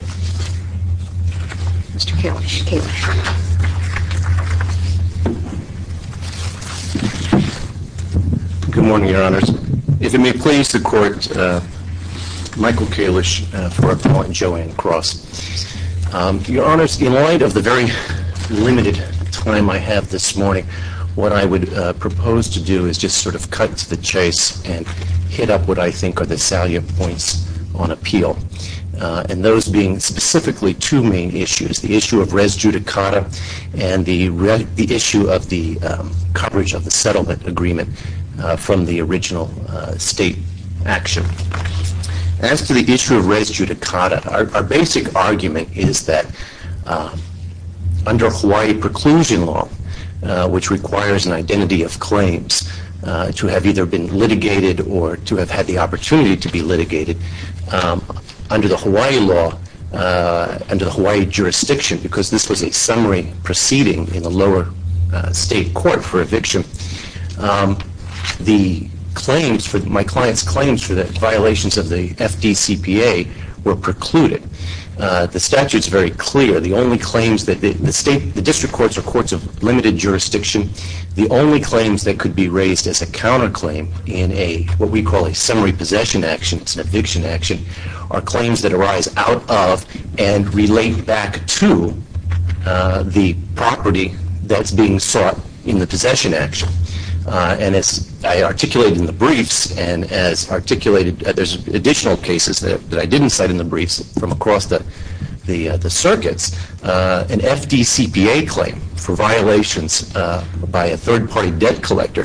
Good morning, Your Honors. In light of the very limited time I have this morning, what I would propose to do is just sort of cut to the chase and hit up what I think are the two main issues, the issue of res judicata and the issue of the coverage of the settlement agreement from the original state action. As to the issue of res judicata, our basic argument is that under Hawaii preclusion law, which requires an identity of claims to have either been litigated or to have had the opportunity to be litigated, under the Hawaii law and the Hawaii jurisdiction, because this was a summary proceeding in the lower state court for eviction, my client's claims for the violations of the FDCPA were precluded. The statute is very clear. The district courts are courts of limited jurisdiction. The only claims that could be raised as a counterclaim in what we call a summary possession action, it's an eviction action, are claims that arise out of and relate back to the property that's being sought in the possession action. And as I articulated in the briefs, and as articulated there's additional cases that I didn't cite in the briefs from across the circuits, an a third party debt collector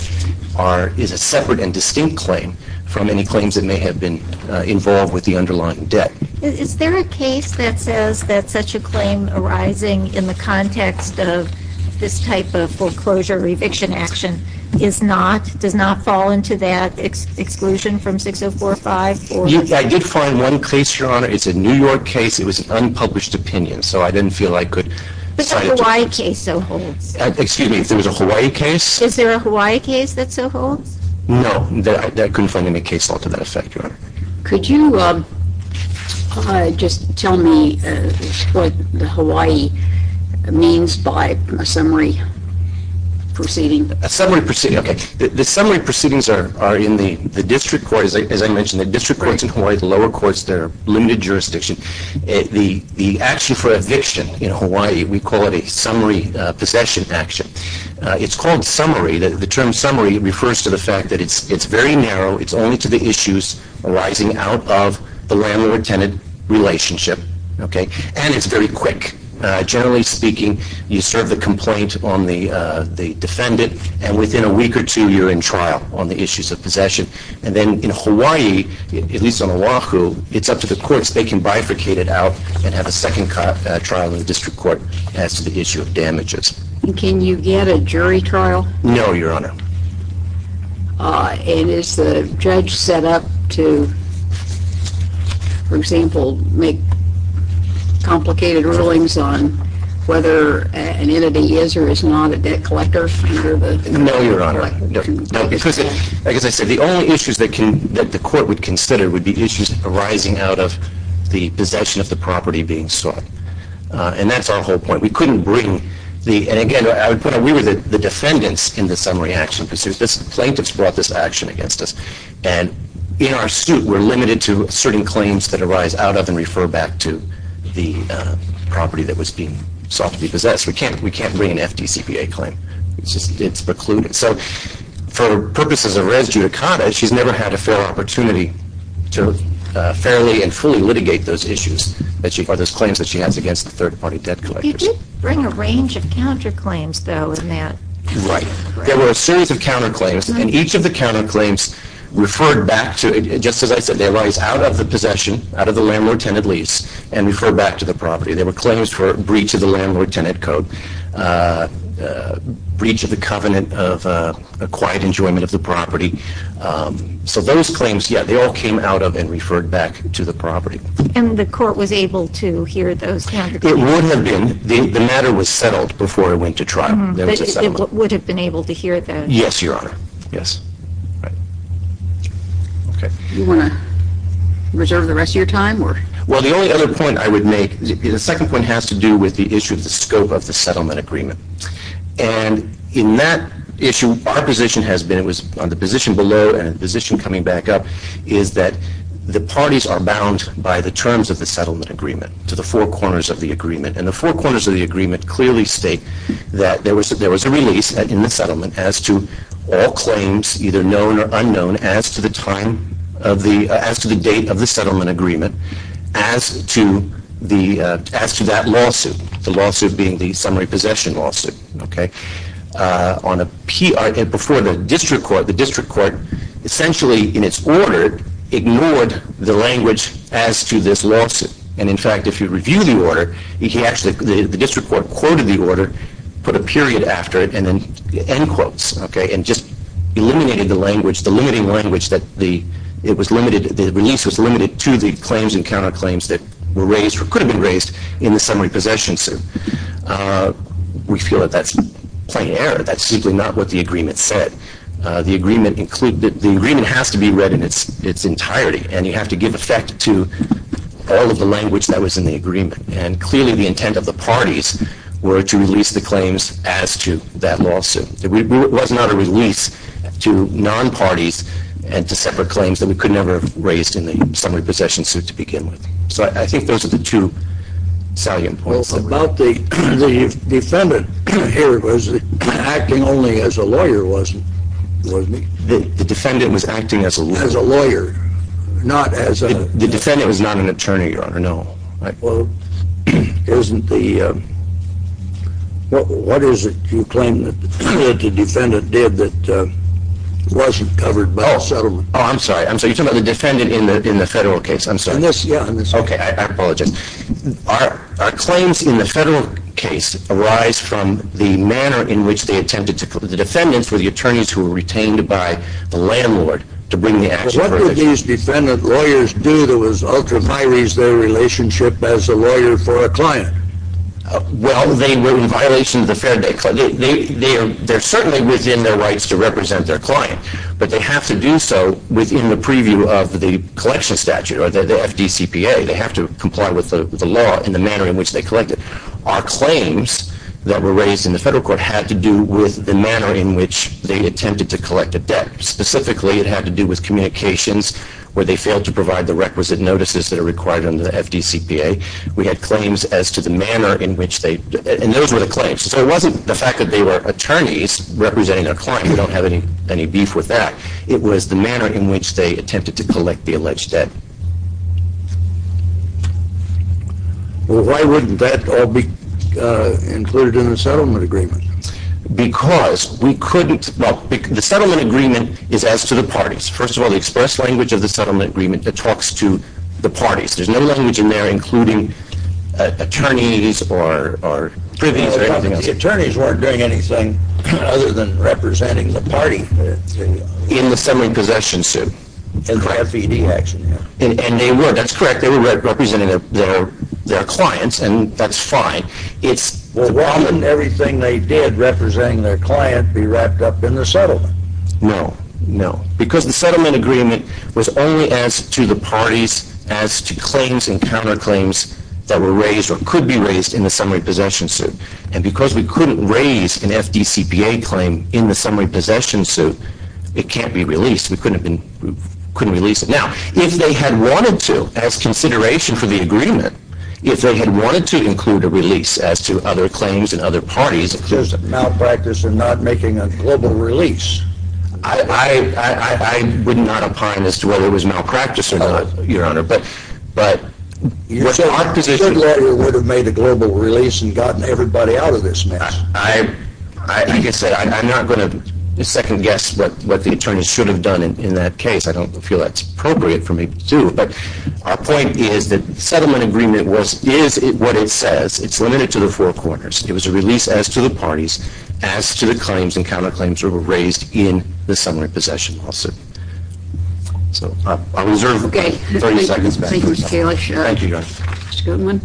is a separate and distinct claim from any claims that may have been involved with the underlying debt. Is there a case that says that such a claim arising in the context of this type of foreclosure eviction action is not, does not fall into that exclusion from 6045? I did find one case, Your Honor. It's a New York case. It was an unpublished opinion, so I didn't feel I could cite it to you. But the Hawaii case so holds. Excuse me, if there was a Hawaii case? Is there a Hawaii case that so holds? No, I couldn't find any case that's held to that effect, Your Honor. Could you just tell me what the Hawaii means by a summary proceeding? A summary proceeding, okay. The summary proceedings are in the district courts, as I mentioned, the district courts in Hawaii, the lower courts, they're limited jurisdiction. The action for possession action, it's called summary. The term summary refers to the fact that it's very narrow. It's only to the issues arising out of the landlord-tenant relationship, okay. And it's very quick. Generally speaking, you serve the complaint on the defendant and within a week or two you're in trial on the issues of possession. And then in Hawaii, at least on Oahu, it's up to the courts. They can bifurcate it out and have a second trial in the district court as to the issue of damages. Can you get a jury trial? No, Your Honor. And is the judge set up to, for example, make complicated rulings on whether an entity is or is not a debt collector? No, Your Honor. No, because, as I said, the only issues that the court would consider would be issues arising out of the possession of the property being sought. And that's our whole point. We couldn't bring the, and again, I would put it, we were the defendants in the summary action. Plaintiffs brought this action against us. And in our suit, we're limited to certain claims that arise out of and refer back to the property that was being sought to be possessed. We can't bring an FDCPA claim. It's precluded. So, for purposes of res judicata, she's never had a fair opportunity to fairly and fully litigate those issues or those claims that she has against the third-party debt collectors. You did bring a range of counterclaims, though, in that. Right. There were a series of counterclaims, and each of the counterclaims referred back to, just as I said, they arise out of the possession, out of the landlord-tenant lease, and refer back to the property. There were claims for breach of the Landlord-Tenant Code, breach of the covenant of quiet enjoyment of the property. So those claims, yeah, they all came out of and referred back to the property. And the court was able to hear those counterclaims? It would have been. The matter was settled before it went to trial. But it would have been able to hear those? Yes, Your Honor. Yes. Do you want to reserve the rest of your time? Well, the only other point I would make, the second point has to do with the issue of the scope of the settlement agreement. And in that issue, our position has been, it was on the position below and the position coming back up, is that the parties are bound by the terms of the settlement agreement to the four corners of the agreement. And the four corners of the agreement clearly state that there was a release in the settlement as to all claims, either known or unknown, as to the date of the settlement agreement, as to that lawsuit, the lawsuit being the summary possession lawsuit. Before the district court, the district court essentially in its order ignored the language as to this lawsuit. And in fact, if you review the order, the district court quoted the order, put a period after it, and then end quotes, and just eliminated the language, the limiting to the claims and counterclaims that were raised or could have been raised in the summary possession suit. We feel that that's plain error. That's simply not what the agreement said. The agreement has to be read in its entirety, and you have to give effect to all of the language that was in the agreement. And clearly the intent of the parties were to release the claims as to that lawsuit. It was not a release to non-parties and to separate claims that we could never have a summary possession suit to begin with. So I think those are the two salient points. Well, about the defendant here, was he acting only as a lawyer? The defendant was acting as a lawyer. As a lawyer, not as a... The defendant was not an attorney, Your Honor, no. Well, isn't the... What is it you claim that the defendant did that wasn't covered by the settlement? Oh, I'm sorry. I'm sorry. You're talking about the defendant in the federal case. I'm sorry. In this, yeah. Okay. I apologize. Our claims in the federal case arise from the manner in which they attempted to... The defendants were the attorneys who were retained by the landlord to bring the action. But what did these defendant lawyers do that was ultramarries their relationship as a lawyer for a client? Well, they were in violation of the fair day... They're certainly within their rights to represent their client, but they have to do so within the preview of the collection statute or the FDCPA. They have to comply with the law in the manner in which they collect it. Our claims that were raised in the federal court had to do with the manner in which they attempted to collect a debt. Specifically, it had to do with communications where they failed to provide the requisite notices that are required under the FDCPA. We had claims as to the manner in which they... And those were the claims. So it wasn't the fact that they were attorneys representing their client. We don't have any beef with that. It was the manner in which they attempted to collect the alleged debt. Well, why wouldn't that all be included in the settlement agreement? Because we couldn't... Well, the settlement agreement is as to the parties. First of all, the express language of the settlement agreement that talks to the parties. There's no language in there including attorneys or privies or anything else. The attorneys weren't doing anything other than representing the party. In the summary possession suit. In the FED action, yeah. And they were. That's correct. They were representing their clients and that's fine. It's... Well, why wouldn't everything they did representing their client be wrapped up in the settlement? No. No. Because the settlement agreement was only as to the parties, as to claims and counterclaims that were raised or could be raised in the summary possession suit. And because we couldn't raise an FDCPA claim in the summary possession suit, it can't be released. We couldn't release it. Now, if they had wanted to, as consideration for the agreement, if they had wanted to include a release as to other claims and other parties... Just a malpractice in not making a global release. I would not opine as to whether it was malpractice or not, Your Honor. But what our position... Your letter would have made a global release and gotten everybody out of this mess. I can say, I'm not going to second guess what the attorneys should have done in that case. I don't feel that's appropriate for me to do. But our point is that the settlement agreement is what it says. It's limited to the four corners. It was a release as to the parties, as to the claims and counterclaims that were raised in the summary possession lawsuit. So, I'll reserve 30 seconds back. Thank you, Mr. Kalish. Thank you, Your Honor. Mr. Goodwin.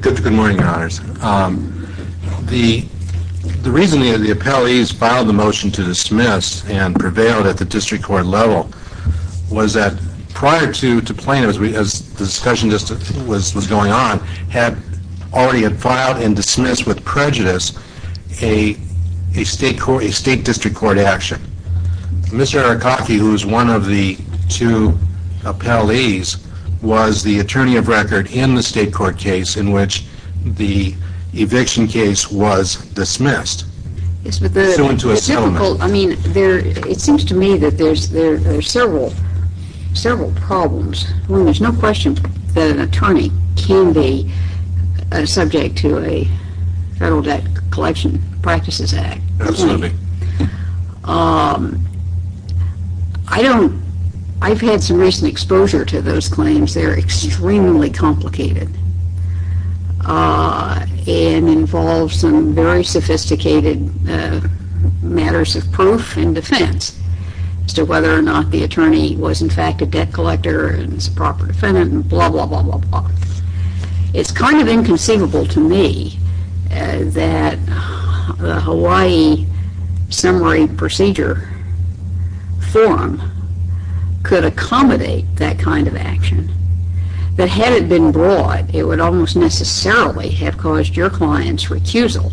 Good morning, Your Honors. The reason the appellees filed the motion to dismiss and prevailed at the district court level was that prior to plaintiff, as the discussion just was going on, already had filed and dismissed with prejudice a state district court action. Mr. Arakaki, who is one of the two appellees, was the attorney of record in the state court case in which the eviction case was dismissed. It seems to me that there are several problems. There's no question that an attorney can be subject to a Federal Debt Collection Practices Act. I've had some recent exposure to those claims. They're extremely complicated. It involves some very sophisticated matters of proof and defense as to whether or not the attorney was, in fact, a debt collector and was a proper defendant and blah, blah, blah, blah, blah. It's kind of inconceivable to me that the Hawaii Summary Procedure Forum could accommodate that kind of action. That had it been broad, it would almost necessarily have caused your client's recusal,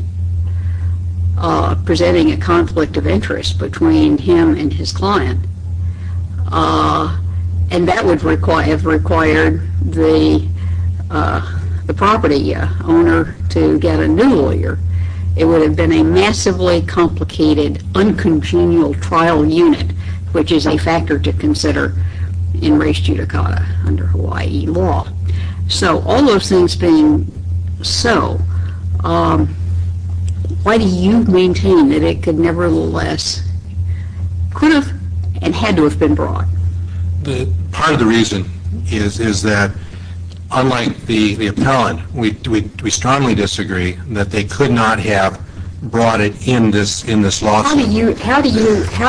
presenting a conflict of interest between him and his client, and that would have required the property owner to get a new lawyer. It would have been a massively complicated, uncongenial trial unit, which is a factor to consider in res judicata under Hawaii law. So, all those things being so, why do you maintain that it could nevertheless could have and had to have been brought? Part of the reason is that, unlike the appellant, we strongly disagree that they could not have brought it in this lawsuit. How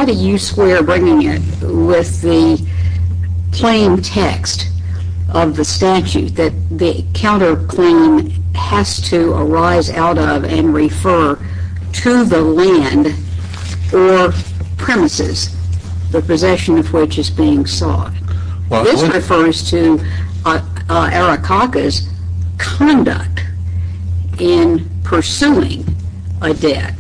do you square bringing it with the plain text of the statute that the counterclaim has to arise out of and refer to the land or premises the possession of which is being sought? This refers to Arikaka's conduct in pursuing a debt.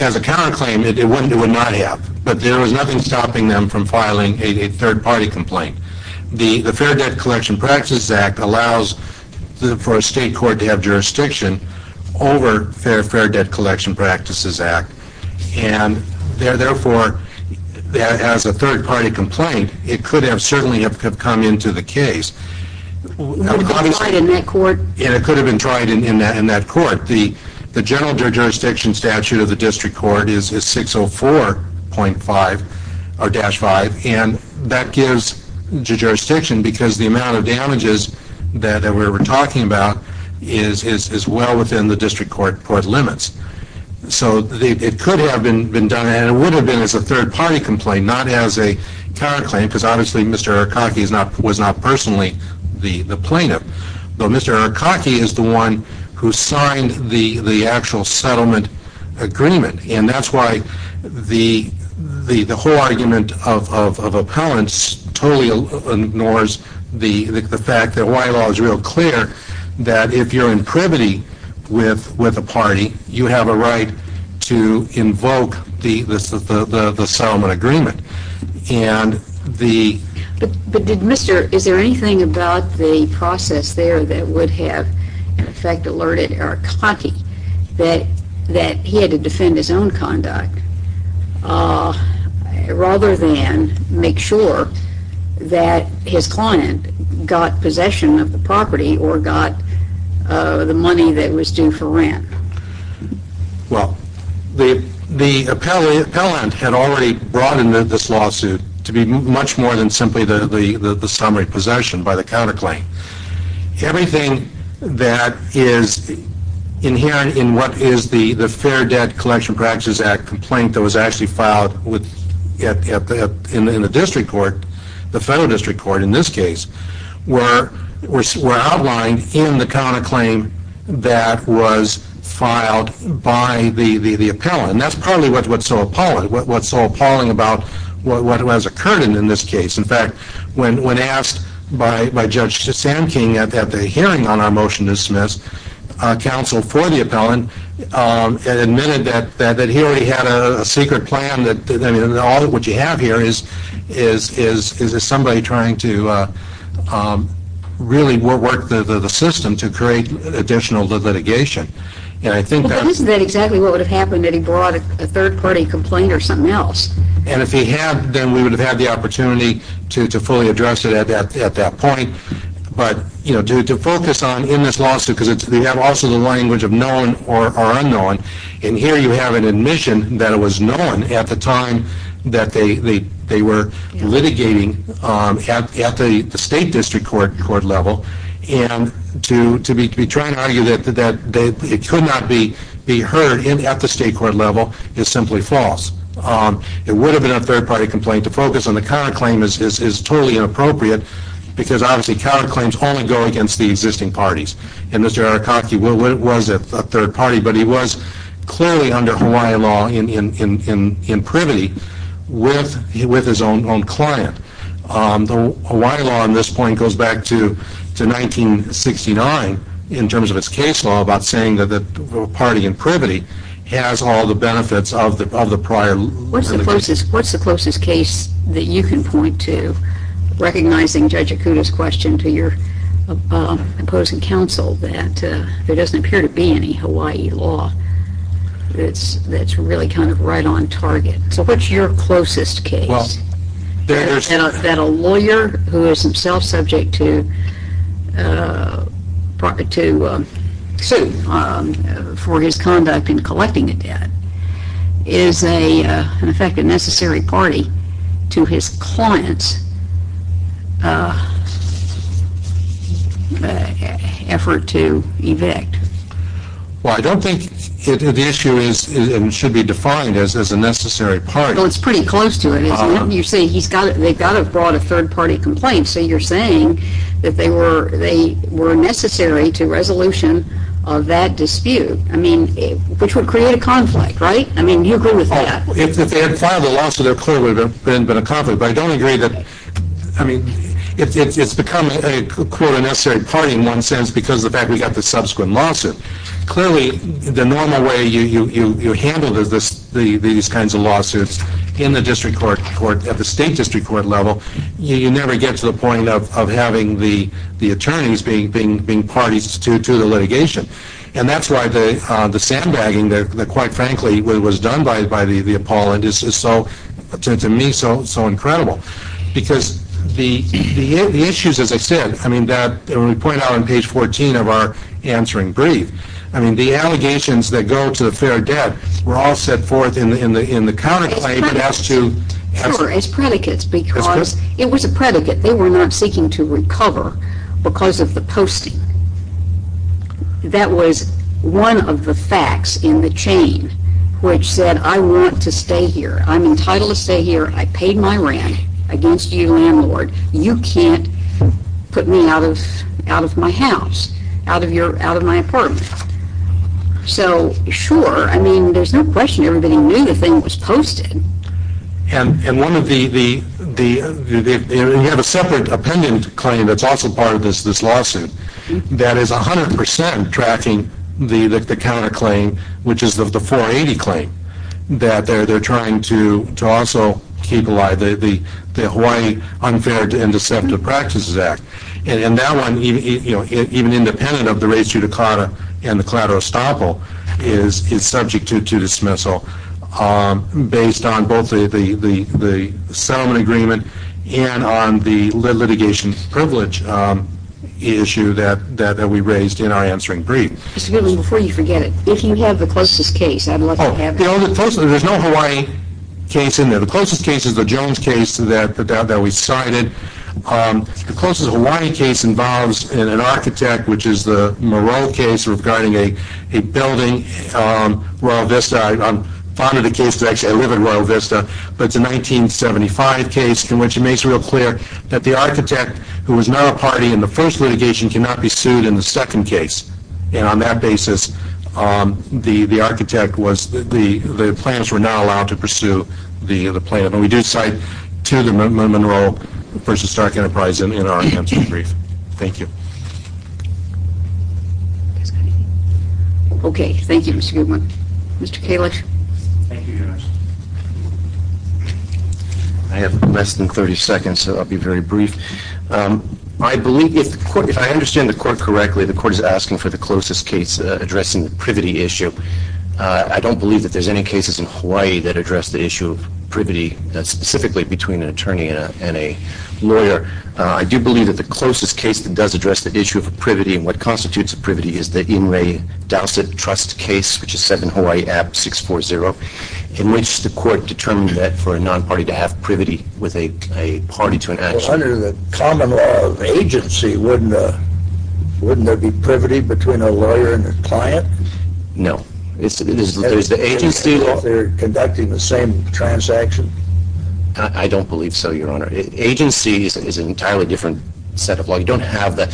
As a counterclaim, it would not have. But there was nothing stopping them from filing a third-party complaint. The Fair Debt Collection Practices Act allows for a state court to have jurisdiction over the Fair Debt Collection Practices Act. And therefore, as a third-party complaint, it could certainly have come into the case. Would it have been tried in that court? It could have been tried in that court. The general jurisdiction statute of the district court is 604-5, and that gives jurisdiction because the amount of damages that we are talking about is well within the district court limits. So, it could have been done, and it would have been as a third-party complaint, not as a counterclaim because, obviously, Mr. Arikaka was not personally the plaintiff. Mr. Arikaka is the one who signed the actual settlement agreement, and that is why the whole argument of appellants totally ignores the fact that Hawaii law is real clear that if you are in privity with a party, you have a right to invoke the settlement agreement. But is there anything about the process there that would have, in effect, alerted Arikaka that he had to defend his own conduct rather than make sure that his client got possession of the property or got the money that was due for rent? Well, the appellant had already brought into this lawsuit to be much more than simply the summary possession by the counterclaim. Everything that is inherent in what is the Fair Debt Collection Practices Act complaint that was actually filed in the district court, the federal district court in this case, were outlined in the counterclaim that was filed by the appellant. That is partly what is so appalling about what has occurred in this case. In fact, when asked by Judge Sanking at the hearing on our motion to dismiss counsel for the appellant and admitted that he already had a secret plan, what you have here is somebody trying to really work the system to create additional litigation. But isn't that exactly what would have happened if he brought a third-party complaint or something else? And if he had, then we would have had the opportunity to fully address it at that point. But to focus on in this lawsuit, because we have also the language of known or unknown, and here you have an admission that it was known at the time that they were litigating at the state district court level, and to be trying to argue that it could not be heard at the state court level is simply false. It would have been a third-party complaint. To focus on the counterclaim is totally inappropriate, because obviously counterclaims only go against the existing parties. And Mr. Arakaki was a third-party, but he was clearly under Hawaii law in privity with his own client. The Hawaii law on this point goes back to 1969 in terms of its case law about saying that a party in privity has all the benefits of the prior litigation. What's the closest case that you can point to, recognizing Judge Akuda's question to your opposing counsel, that there doesn't appear to be any Hawaii law that's really kind of right on target? So what's your closest case that a lawyer who is himself subject to sue for his conduct in collecting the debt is, in effect, a necessary party to his client's effort to evict? Well, I don't think the issue should be defined as a necessary party. Well, it's pretty close to it, isn't it? You're saying they've got to have brought a third-party complaint. So you're saying that they were necessary to resolution of that dispute. I mean, which would create a conflict, right? I mean, do you agree with that? If they had filed a lawsuit, there clearly would have been a conflict. But I don't agree that – I mean, it's become a, quote, a necessary party in one sense because of the fact we got the subsequent lawsuit. Clearly, the normal way you handle these kinds of lawsuits in the district court, at the state district court level, you never get to the point of having the attorneys being parties to the litigation. And that's why the sandbagging that, quite frankly, was done by the appellant is, to me, so incredible. Because the issues, as I said, I mean, when we point out on page 14 of our answering brief, I mean, the allegations that go to the fair debt were all set forth in the counterclaim that has to – Sure, as predicates, because it was a predicate. They were not seeking to recover because of the posting. That was one of the facts in the chain which said, I want to stay here. I'm entitled to stay here. I paid my rent against you, landlord. You can't put me out of my house, out of my apartment. So, sure, I mean, there's no question everybody knew the thing was posted. And one of the – and you have a separate appendant claim that's also part of this lawsuit that is 100 percent tracking the counterclaim, which is the 480 claim that they're trying to also keep alive, the Hawaii Unfair and Deceptive Practices Act. And that one, even independent of the rates due to CARTA and the collateral estoppel, is subject to dismissal based on both the settlement agreement and on the litigation privilege issue that we raised in our answering brief. Mr. Goodwin, before you forget it, if you have the closest case, I'd love to have it. Oh, the closest – there's no Hawaii case in there. The closest case is the Jones case that we cited. The closest Hawaii case involves an architect, which is the Moreau case regarding a building, Royal Vista. I'm fond of the case that actually – I live at Royal Vista. But it's a 1975 case in which it makes real clear that the architect, who was not a party in the first litigation, cannot be sued in the second case. And on that basis, the architect was – the plaintiffs were not allowed to pursue the plaintiff. And we do cite to the Monroe v. Stark Enterprise in our answering brief. Thank you. Okay. Thank you, Mr. Goodwin. Mr. Kalish? Thank you, Judge. I have less than 30 seconds, so I'll be very brief. I believe – if the court – if I understand the court correctly, the court is asking for the closest case addressing the privity issue. I don't believe that there's any cases in Hawaii that address the issue of privity, specifically between an attorney and a lawyer. I do believe that the closest case that does address the issue of privity and what constitutes a privity is the Inouye-Dowsett Trust case, which is set in Hawaii, AB 640, in which the court determined that for a non-party to have privity with a party to an action. Well, under the common law of agency, wouldn't there be privity between a lawyer and a client? No. There's the agency – If they're conducting the same transaction? I don't believe so, Your Honor. Agency is an entirely different set of law. The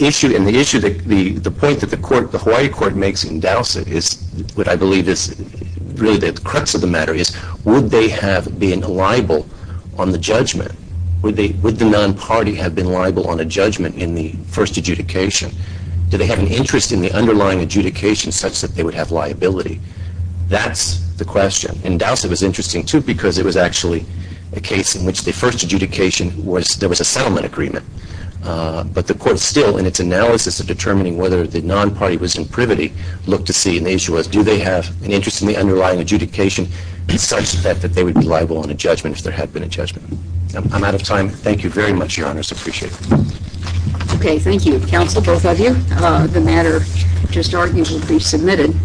issue – and the point that the Hawaii court makes in Dowsett is what I believe is really the crux of the matter is would they have been liable on the judgment? Would the non-party have been liable on a judgment in the first adjudication? Do they have an interest in the underlying adjudication such that they would have liability? That's the question. And Dowsett was interesting, too, because it was actually a case in which the first adjudication was – there was a settlement agreement. But the court still, in its analysis of determining whether the non-party was in privity, looked to see – and the issue was do they have an interest in the underlying adjudication such that they would be liable on a judgment if there had been a judgment? I'm out of time. Thank you very much, Your Honors. I appreciate it. Okay. Thank you, counsel, both of you. The matter just argued will be submitted.